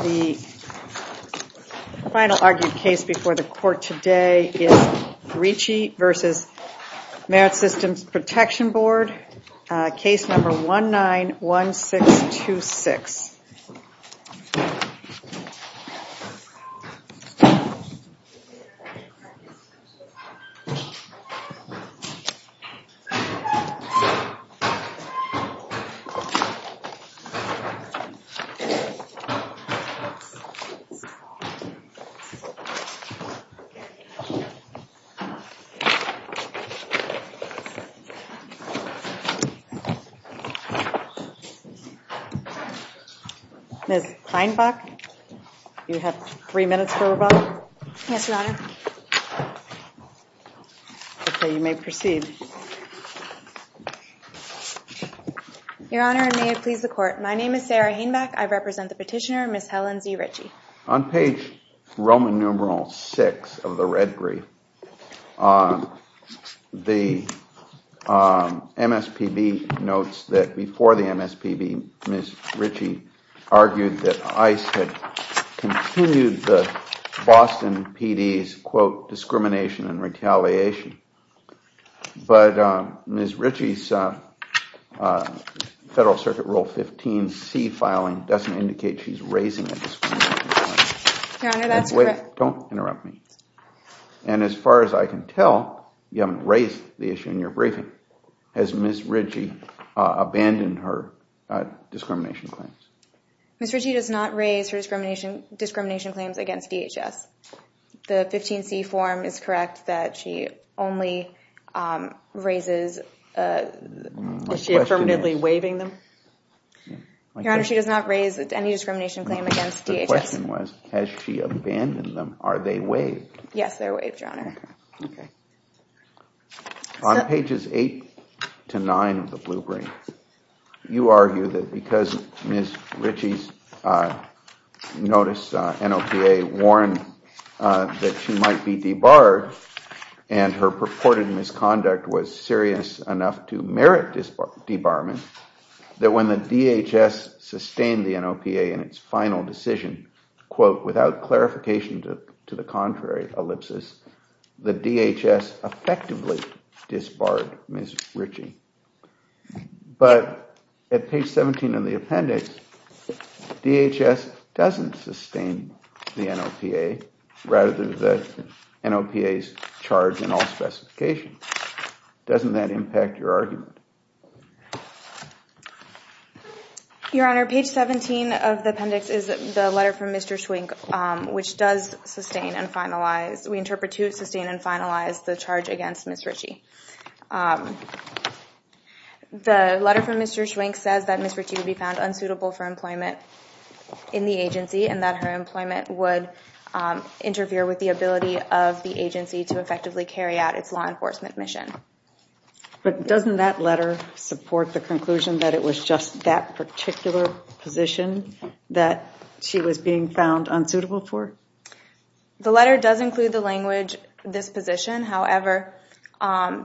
The final argued case before the court today is Ricci v. Merit Systems Protection Board, Ms. Kleinbach, you have three minutes for rebuttal. Yes, Your Honor. Okay, you may proceed. Your Honor, and may it please the court, my name is Sarah Hainbach. I represent the petitioner, Ms. Helen Z. Ricci. On page Roman numeral 6 of the red brief, the MSPB notes that before the MSPB, Ms. Ricci argued that ICE had continued the Boston PD's, quote, discrimination and retaliation. But Ms. Ricci's Federal Circuit Rule 15c filing doesn't indicate she's raising a discrimination claim. Don't interrupt me. And as far as I can tell, you haven't raised the issue in your briefing. Has Ms. Ricci abandoned her discrimination claims? Ms. Ricci does not raise her discrimination claims against DHS. The 15c form is correct that she only raises, is she affirmatively waiving them? Your Honor, she does not raise any discrimination claim against DHS. The question was, has she abandoned them? Are they waived? Yes, they're waived, Your Honor. On pages 8 to 9 of the blue brief, you argue that because Ms. Ricci's notice NOPA warned that she might be debarred and her purported misconduct was serious enough to merit debarment, that when the appendix, DHS doesn't sustain the NOPA rather than the NOPA's charge in all specifications. Doesn't that impact your argument? Your Honor, page 17 of the appendix is the letter from Mr. Schwing, which does sustain and finalize, we interpret to sustain and finalize the charge against Ms. Ricci. The letter states that Ms. Ricci was being found unsuitable for employment in the agency and that her employment would interfere with the ability of the agency to effectively carry out its law enforcement mission. But doesn't that letter support the conclusion that it was just that particular position that she was being found unsuitable for employment in the agency? Yes, it does. It does support the conclusion that Ms. Ricci was being found unsuitable for employment in the agency. Second, the agency may find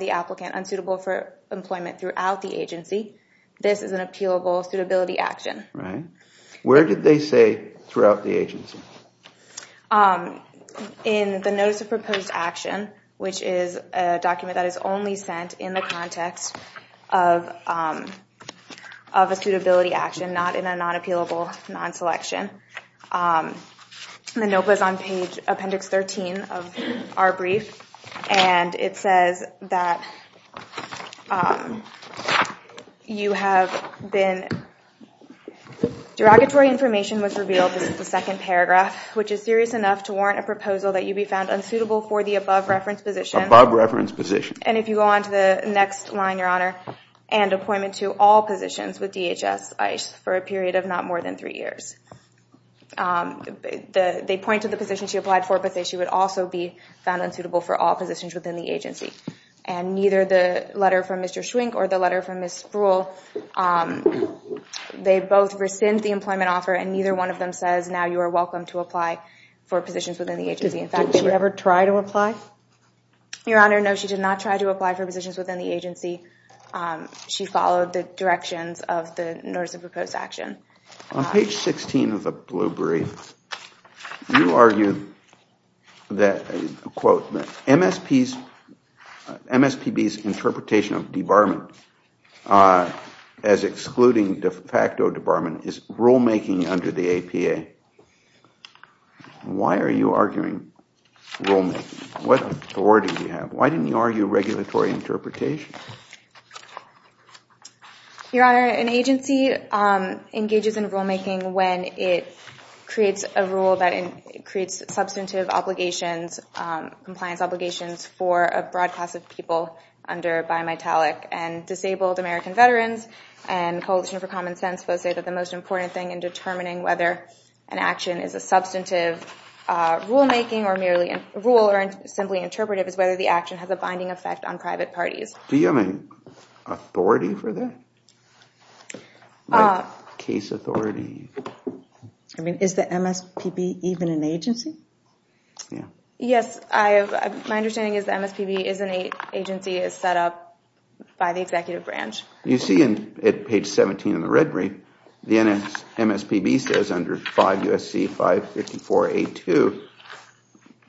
the applicant unsuitable for employment throughout the agency. This is an appealable suitability action. Where did they say throughout the agency? In the notice of proposed action, which is a document that is only sent in the context of a suitability action, not in a non-appealable, non-selection. The NOPA is on page 3. When that information was revealed, this is the second paragraph, which is serious enough to warrant a proposal that you be found unsuitable for the above reference position. And if you go on to the next line, Your Honor, and appointment to all positions with DHS ICE for a period of not more than three years. They point to the position she applied for but say she would also be found unsuitable for all positions within the agency. And neither the letter from Mr. Schwink or the letter from Ms. Spruill, they both rescind the employment offer and neither one of them says now you are welcome to apply for positions within the agency. In fact, did she ever try to apply? Your Honor, no, she did not try to apply for positions within the agency. She followed the directions of the notice of proposed action. On page 16 of the blue brief, you argue that MSPB's interpretation of debarment as excluding de facto debarment is rulemaking under the APA. Why are you arguing rulemaking? What authority do you have? Why didn't you argue regulatory interpretation? Your Honor, an agency engages in rulemaking when it creates a rule that creates substantive obligations, compliance obligations for a broad class of people under bimetallic and disabled American veterans. And Coalition for Common Sense both say that the most important thing in determining whether an action is a substantive rulemaking or merely a rule or simply interpretive is whether the action has a binding effect on private parties. Do you have any authority for that? Is the MSPB even an agency? Yes, my understanding is the MSPB is an agency set up by the executive branch. You see on page 17 of the red brief, the MSPB says under 5 U.S.C. 554A2,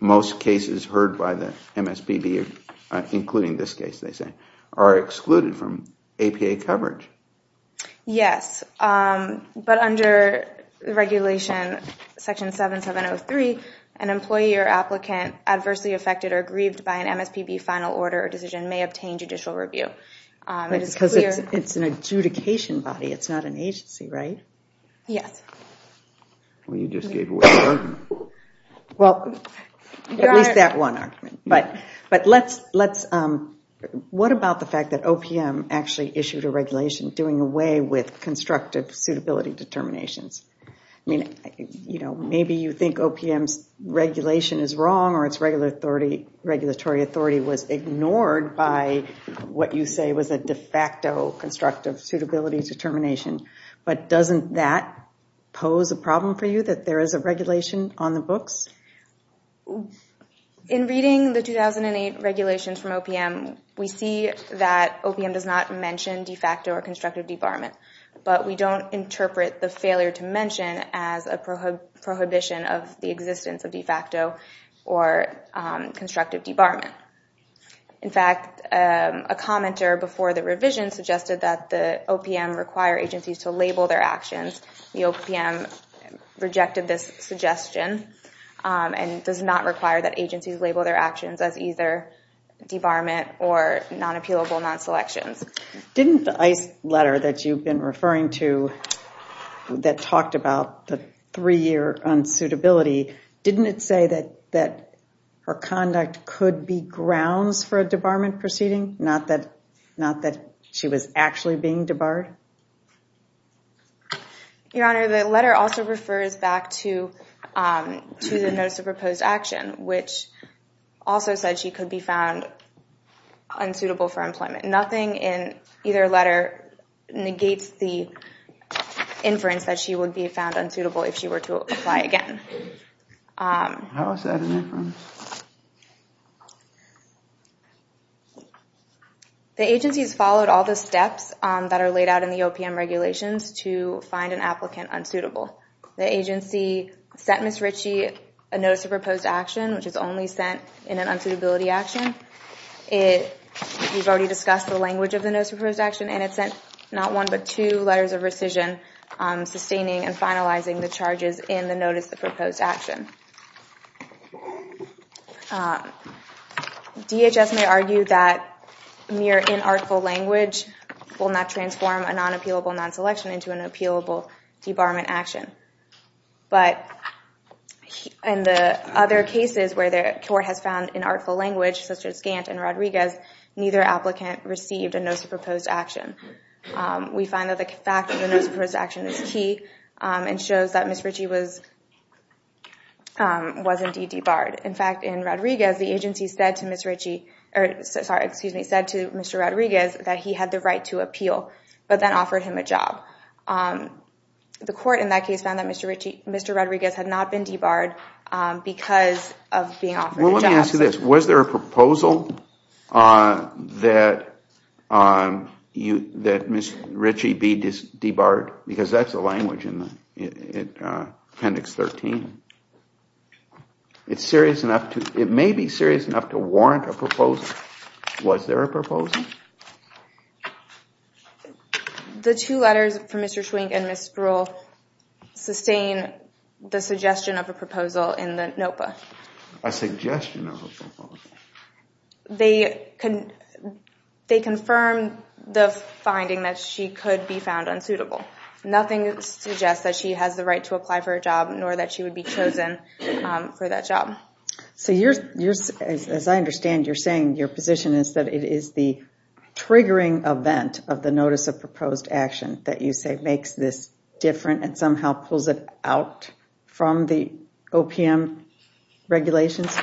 most cases heard by the MSPB, including this case, are excluded from APA coverage. Yes, but under regulation section 7703, an employee or applicant adversely affected or grieved by an MSPB final order or decision may obtain judicial review. Because it's an adjudication body, it's not an agency, right? Yes. Well, you just gave away the argument. Well, at least that one argument. But what about the fact that OPM actually issued a regulation doing away with constructive suitability determinations? Maybe you think OPM's regulation is wrong or its regulatory authority was ignored by what you say was a de facto constructive suitability determination. But doesn't that pose a problem for you, that there is a regulation on the books? In reading the 2008 regulations from OPM, we see that OPM does not mention de facto or constructive debarment. But we don't interpret the failure to mention as a prohibition of the existence of de facto or constructive debarment. In fact, a commenter before the revision suggested that the OPM require agencies to label their actions. The OPM rejected this suggestion. And does not require that agencies label their actions as either debarment or non-appealable non-selections. Didn't the ICE letter that you've been referring to that talked about the three-year unsuitability, didn't it say that her conduct could be grounds for a debarment proceeding, not that she was actually being debarred? Your Honor, the letter also refers back to the Notice of Proposed Action, which also said she could be found unsuitable for employment. Nothing in either letter negates the inference that she would be found unsuitable if she were to apply again. The agency has followed all the steps that are laid out in the OPM regulations to find an applicant unsuitable. The agency sent Ms. Ritchie a Notice of Proposed Action, which is only sent in an unsuitability action. We've already discussed the language of the Notice of Proposed Action, and it sent not one but two letters of rescission, sustaining and finalizing the charges in the Notice of Proposed Action. DHS may argue that mere inartful language will not transform a non-appealable non-selection into an appealable debarment action. But in the other cases where the court has found inartful language, such as Gantt and Rodriguez, neither applicant received a Notice of Proposed Action. We find that the fact that the Notice of Proposed Action is key and shows that Ms. Ritchie was indeed debarred. In fact, in Rodriguez, the agency said to Mr. Rodriguez that he had the right to appeal, but then offered him a job. The court in that case found that Mr. Rodriguez had not been debarred because of being offered a job. So let me ask you this. Was there a proposal that Ms. Ritchie be debarred? Because that's the language in Appendix 13. It may be serious enough to warrant a proposal. Was there a proposal? The two letters for Mr. Schwink and Ms. Sproul sustain the suggestion of a proposal in the NOPA. A suggestion of a proposal? They confirm the finding that she could be found unsuitable. Nothing suggests that she has the right to apply for a job, nor that she would be chosen for that job. So as I understand, you're saying your position is that it is the triggering event of the Notice of Proposed Action that you say makes this different and somehow pulls it out from the OPM regulations?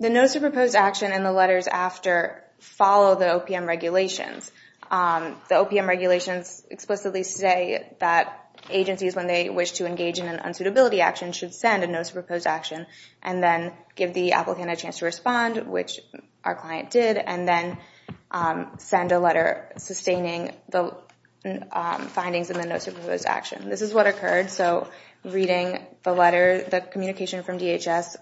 The Notice of Proposed Action and the letters after follow the OPM regulations. The OPM regulations explicitly say that agencies, when they wish to engage in an unsuitability action, should send a Notice of Proposed Action and then give the applicant a chance to respond, which our client did, and then send a letter sustaining the findings in the Notice of Proposed Action. This is what occurred. So reading the letter, the communication from DHS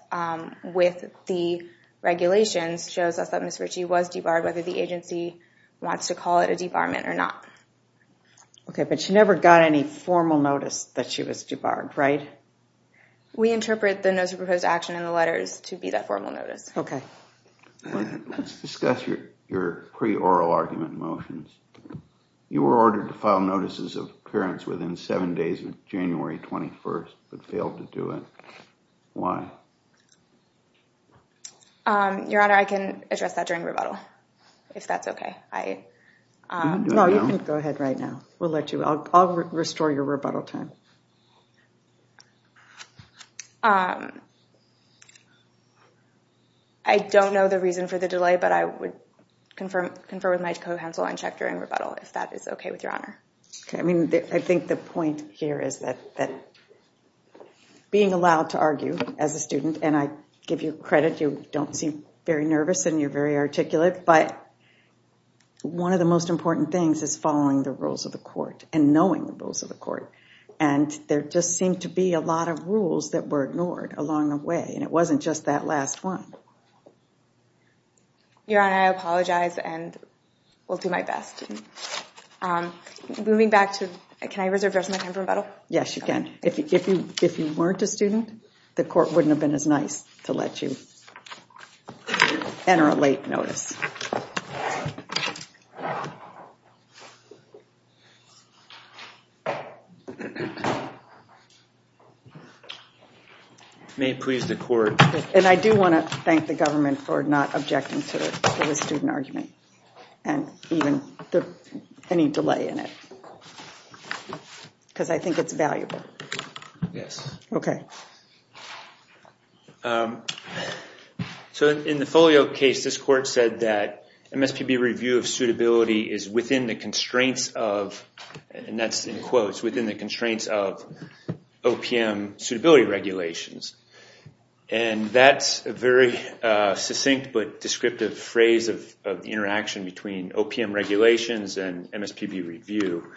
with the regulations, shows us that Ms. Ritchie was debarred, whether the agency wants to call it a debarment or not. But she never got any formal notice that she was debarred, right? We interpret the Notice of Proposed Action and the letters to be that formal notice. Okay. Let's discuss your pre-oral argument motions. You were ordered to file notices of appearance within seven days of January 21st, but failed to do it. Why? Your Honor, I can address that during rebuttal, if that's okay. No, you can go ahead right now. We'll let you. I'll restore your rebuttal time. I don't know the reason for the delay, but I would confer with my co-counsel and check during rebuttal, if that is okay with your Honor. Okay. I mean, I think the point here is that being allowed to argue as a student, and I give you credit, you don't seem very nervous and you're very articulate, but one of the most important things is following the rules of the court and knowing the rules of the court. And there just seemed to be a lot of rules that were ignored along the way, and it wasn't just that last one. Your Honor, I apologize and will do my best. Moving back to, can I reserve the rest of my time for rebuttal? Yes, you can. If you weren't a student, the court wouldn't have been as nice to let you enter a late notice. May it please the court. And I do want to thank the government for not objecting to the student argument and any delay in it. Because I think it's valuable. Yes. Okay. So in the Folio case, this court said that MSPB review of suitability is within the constraints of, and that's in quotes, within the constraints of OPM suitability regulations. And that's a very succinct but descriptive phrase of the interaction between OPM regulations and MSPB review,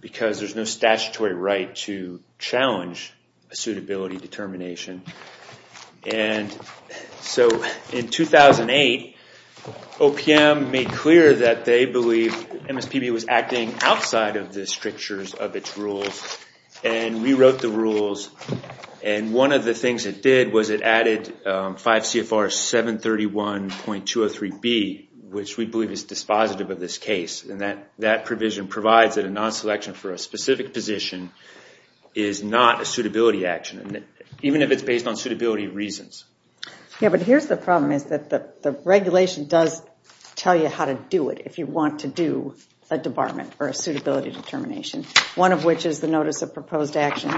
because there's no statutory right to challenge a suitability determination. And so in 2008, OPM made clear that they believe MSPB was acting outside of the strictures of its rules, and rewrote the rules. And one of the things it did was it added 5 CFR 731.203B, which we believe is dispositive of this case. And that provision provides that a non-selection for a specific position is not a suitability action. Even if it's based on suitability reasons. Yeah, but here's the problem is that the regulation does tell you how to do it, if you want to do a debarment or a suitability determination, one of which is the notice of proposed action,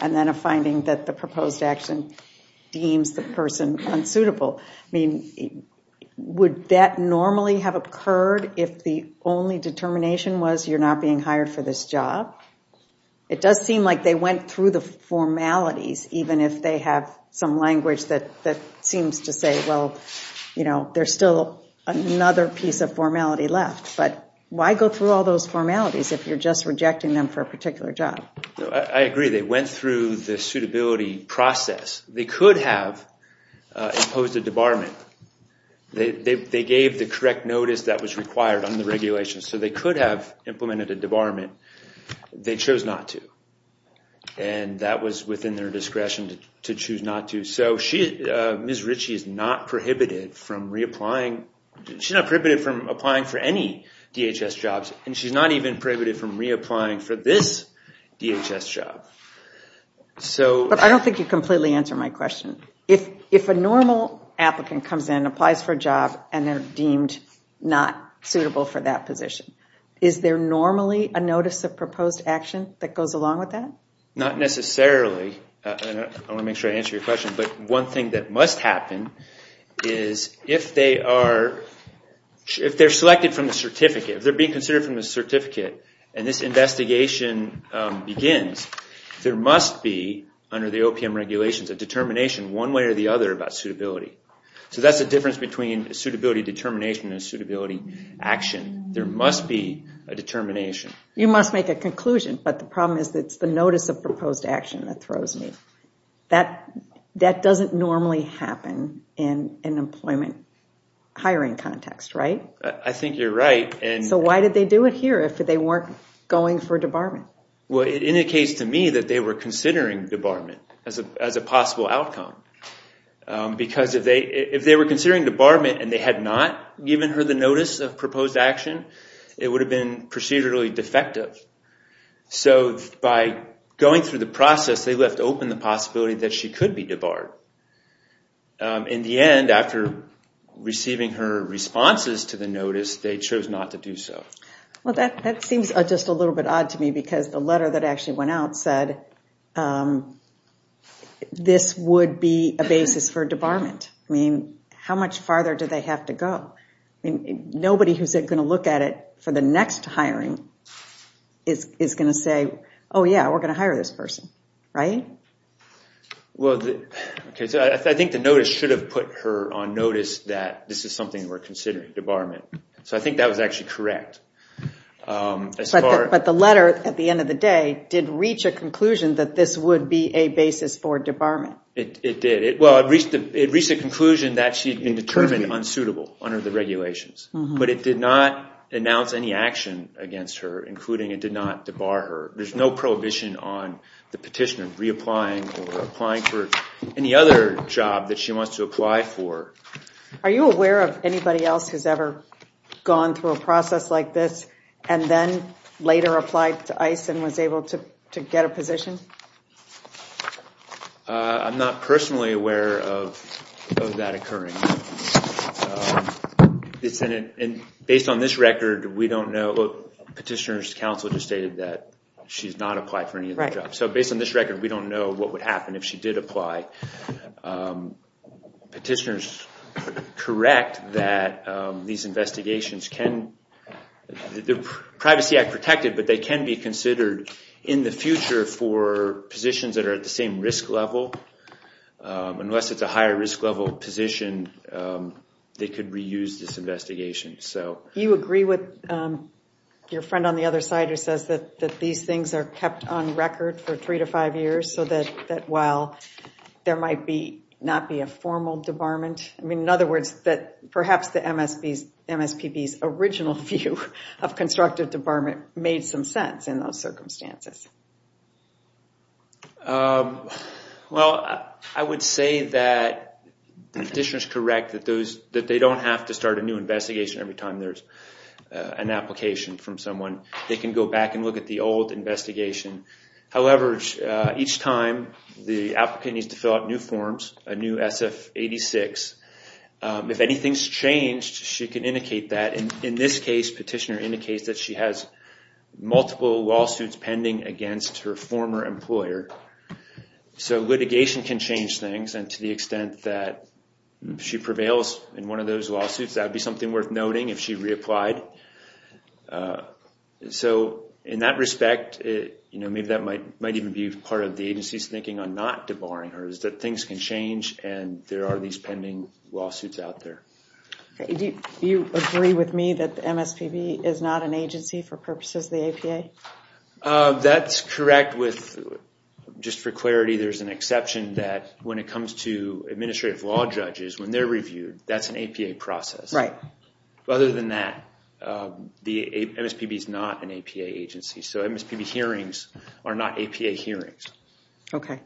and then a finding that the proposed action deems the person unsuitable. I mean, would that normally have occurred if the only determination was you're not being hired for this job? It does seem like they went through the formalities, even if they have some language that seems to say, well, you know, there's still another piece of formality left. But why go through all those formalities if you're just rejecting them for a particular job? I agree. They went through the suitability process. They could have imposed a debarment. They gave the correct notice that was required on the regulations, so they could have implemented a debarment. They chose not to. And that was within their discretion to choose not to. So Ms. Ritchie is not prohibited from reapplying. She's not prohibited from applying for any DHS jobs, and she's not even prohibited from reapplying for this DHS job. But I don't think you completely answered my question. If a normal applicant comes in, applies for a job, and they're deemed not suitable for that position, is there normally a notice of proposed action that goes along with that? Not necessarily. I want to make sure I answer your question. But one thing that must happen is if they are selected from the certificate, if they're being considered from the certificate, and this investigation begins, there must be, under the OPM regulations, a determination one way or the other about suitability. So that's the difference between a suitability determination and a suitability action. There must be a determination. You must make a conclusion, but the problem is it's the notice of proposed action that throws me. That doesn't normally happen in an employment hiring context, right? I think you're right. So why did they do it here if they weren't going for debarment? Well, it indicates to me that they were considering debarment as a possible outcome. Because if they were considering debarment and they had not given her the notice of proposed action, it would have been procedurally defective. So by going through the process, they left open the possibility that she could be debarred. In the end, after receiving her responses to the notice, they chose not to do so. Well, that seems just a little bit odd to me because the letter that actually went out said this would be a basis for debarment. I mean, how much farther do they have to go? Nobody who's going to look at it for the next hiring is going to say, oh, yeah, we're going to hire this person, right? Well, I think the notice should have put her on notice that this is something we're considering, debarment. So I think that was actually correct. But the letter, at the end of the day, did reach a conclusion that this would be a basis for debarment. It did. Well, it reached a conclusion that she had been determined unsuitable under the regulations. But it did not announce any action against her, including it did not debar her. There's no prohibition on the petitioner reapplying or applying for any other job that she wants to apply for. Are you aware of anybody else who's ever gone through a process like this and then later applied to ICE and was able to get a position? I'm not personally aware of that occurring. Based on this record, we don't know. Petitioner's counsel just stated that she's not applied for any other job. So based on this record, we don't know what would happen if she did apply. Petitioners correct that these investigations can be considered in the future for positions that are at the same risk level. Unless it's a higher risk level position, they could reuse this investigation. Do you agree with your friend on the other side who says that these things are kept on record for three to five years so that while there might not be a formal debarment, in other words, that perhaps the MSPB's original view of constructive debarment made some sense in those circumstances? Well, I would say that the petitioner's correct that they don't have to start a new investigation every time there's an application from someone. They can go back and look at the old investigation. However, each time the applicant needs to fill out new forms, a new SF-86, if anything's changed, she can indicate that. In this case, petitioner indicates that she has multiple lawsuits pending against her former employer. So litigation can change things, and to the extent that she prevails in one of those lawsuits, that would be something worth noting if she reapplied. In that respect, maybe that might even be part of the agency's thinking on not debarring her, is that things can change and there are these pending lawsuits out there. Do you agree with me that the MSPB is not an agency for purposes of the APA? That's correct. Just for clarity, there's an exception that when it comes to administrative law judges, when they're reviewed, that's an APA process. Other than that, the MSPB is not an APA agency. So MSPB hearings are not APA hearings. Okay.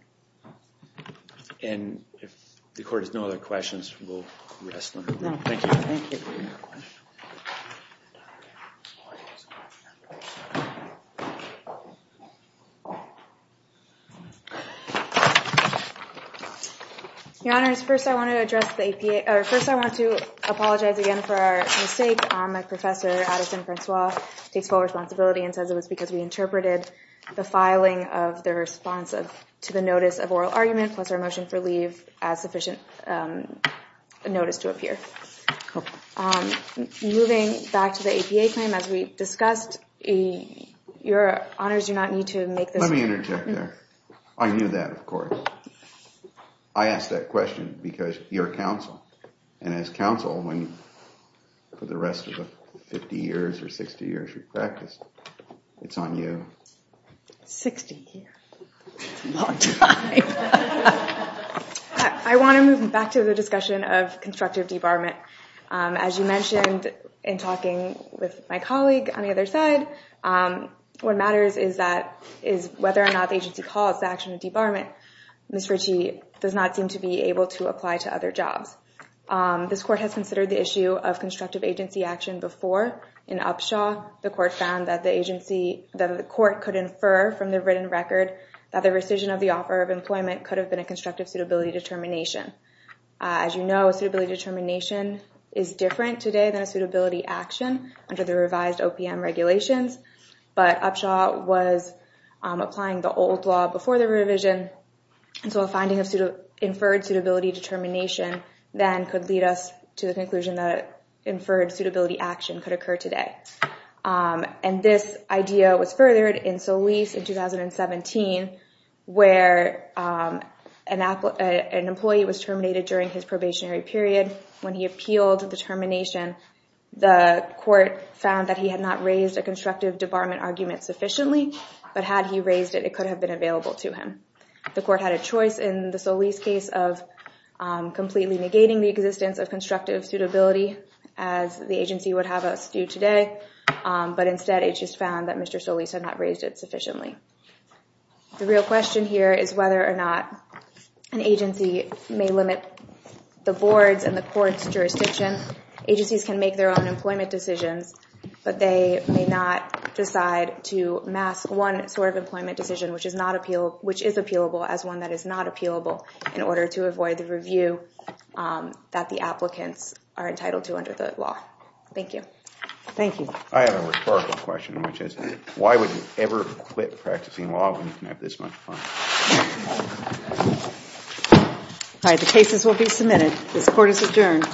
Your Honor, first I want to apologize again for our mistake. Professor Addison-Francois takes full responsibility and says it was because we interpreted the filing of the response to the notice of oral argument, plus our motion for leave, as sufficient a notice to appear. Moving back to the APA claim, as we discussed, Your Honors, you do not need to make this... Let me interject there. I knew that, of course. I asked that question because you're counsel, and as counsel, for the rest of the 50 years or 60 years you've practiced, it's on you. 60 years. That's a long time. I want to move back to the discussion of constructive debarment. As you mentioned in talking with my colleague on the other side, what matters is whether or not the agency calls the action of debarment. Ms. Ritchie does not seem to be able to apply to other jobs. This Court has considered the issue of constructive agency action before. In Upshaw, the Court found that the agency, that the Court could infer from the written record that the rescission of the offer of employment could have been a constructive suitability determination. As you know, a suitability determination is different today than a suitability action under the revised OPM regulations, but Upshaw was applying the old law before the revision, so a finding of inferred suitability determination then could lead us to the conclusion that an inferred suitability action could occur today. This idea was furthered in Solis in 2017, where an employee was terminated during his probationary period. When he appealed the termination, the Court found that he had not raised a constructive debarment argument sufficiently, but had he raised it, it could have been available to him. The Court had a choice in the Solis case of completely negating the existence of constructive suitability as the agency would have us do today, but instead it just found that Mr. Solis had not raised it sufficiently. The real question here is whether or not an agency may limit the Board's and the Court's jurisdiction. Agencies can make their own employment decisions, but they may not decide to mask one sort of employment decision which is appealable as one that is not appealable in order to avoid the review that the applicants are entitled to under the law. Thank you. I have a rhetorical question, which is why would you ever quit practicing law when you can have this much fun? The cases will be submitted. This Court is adjourned.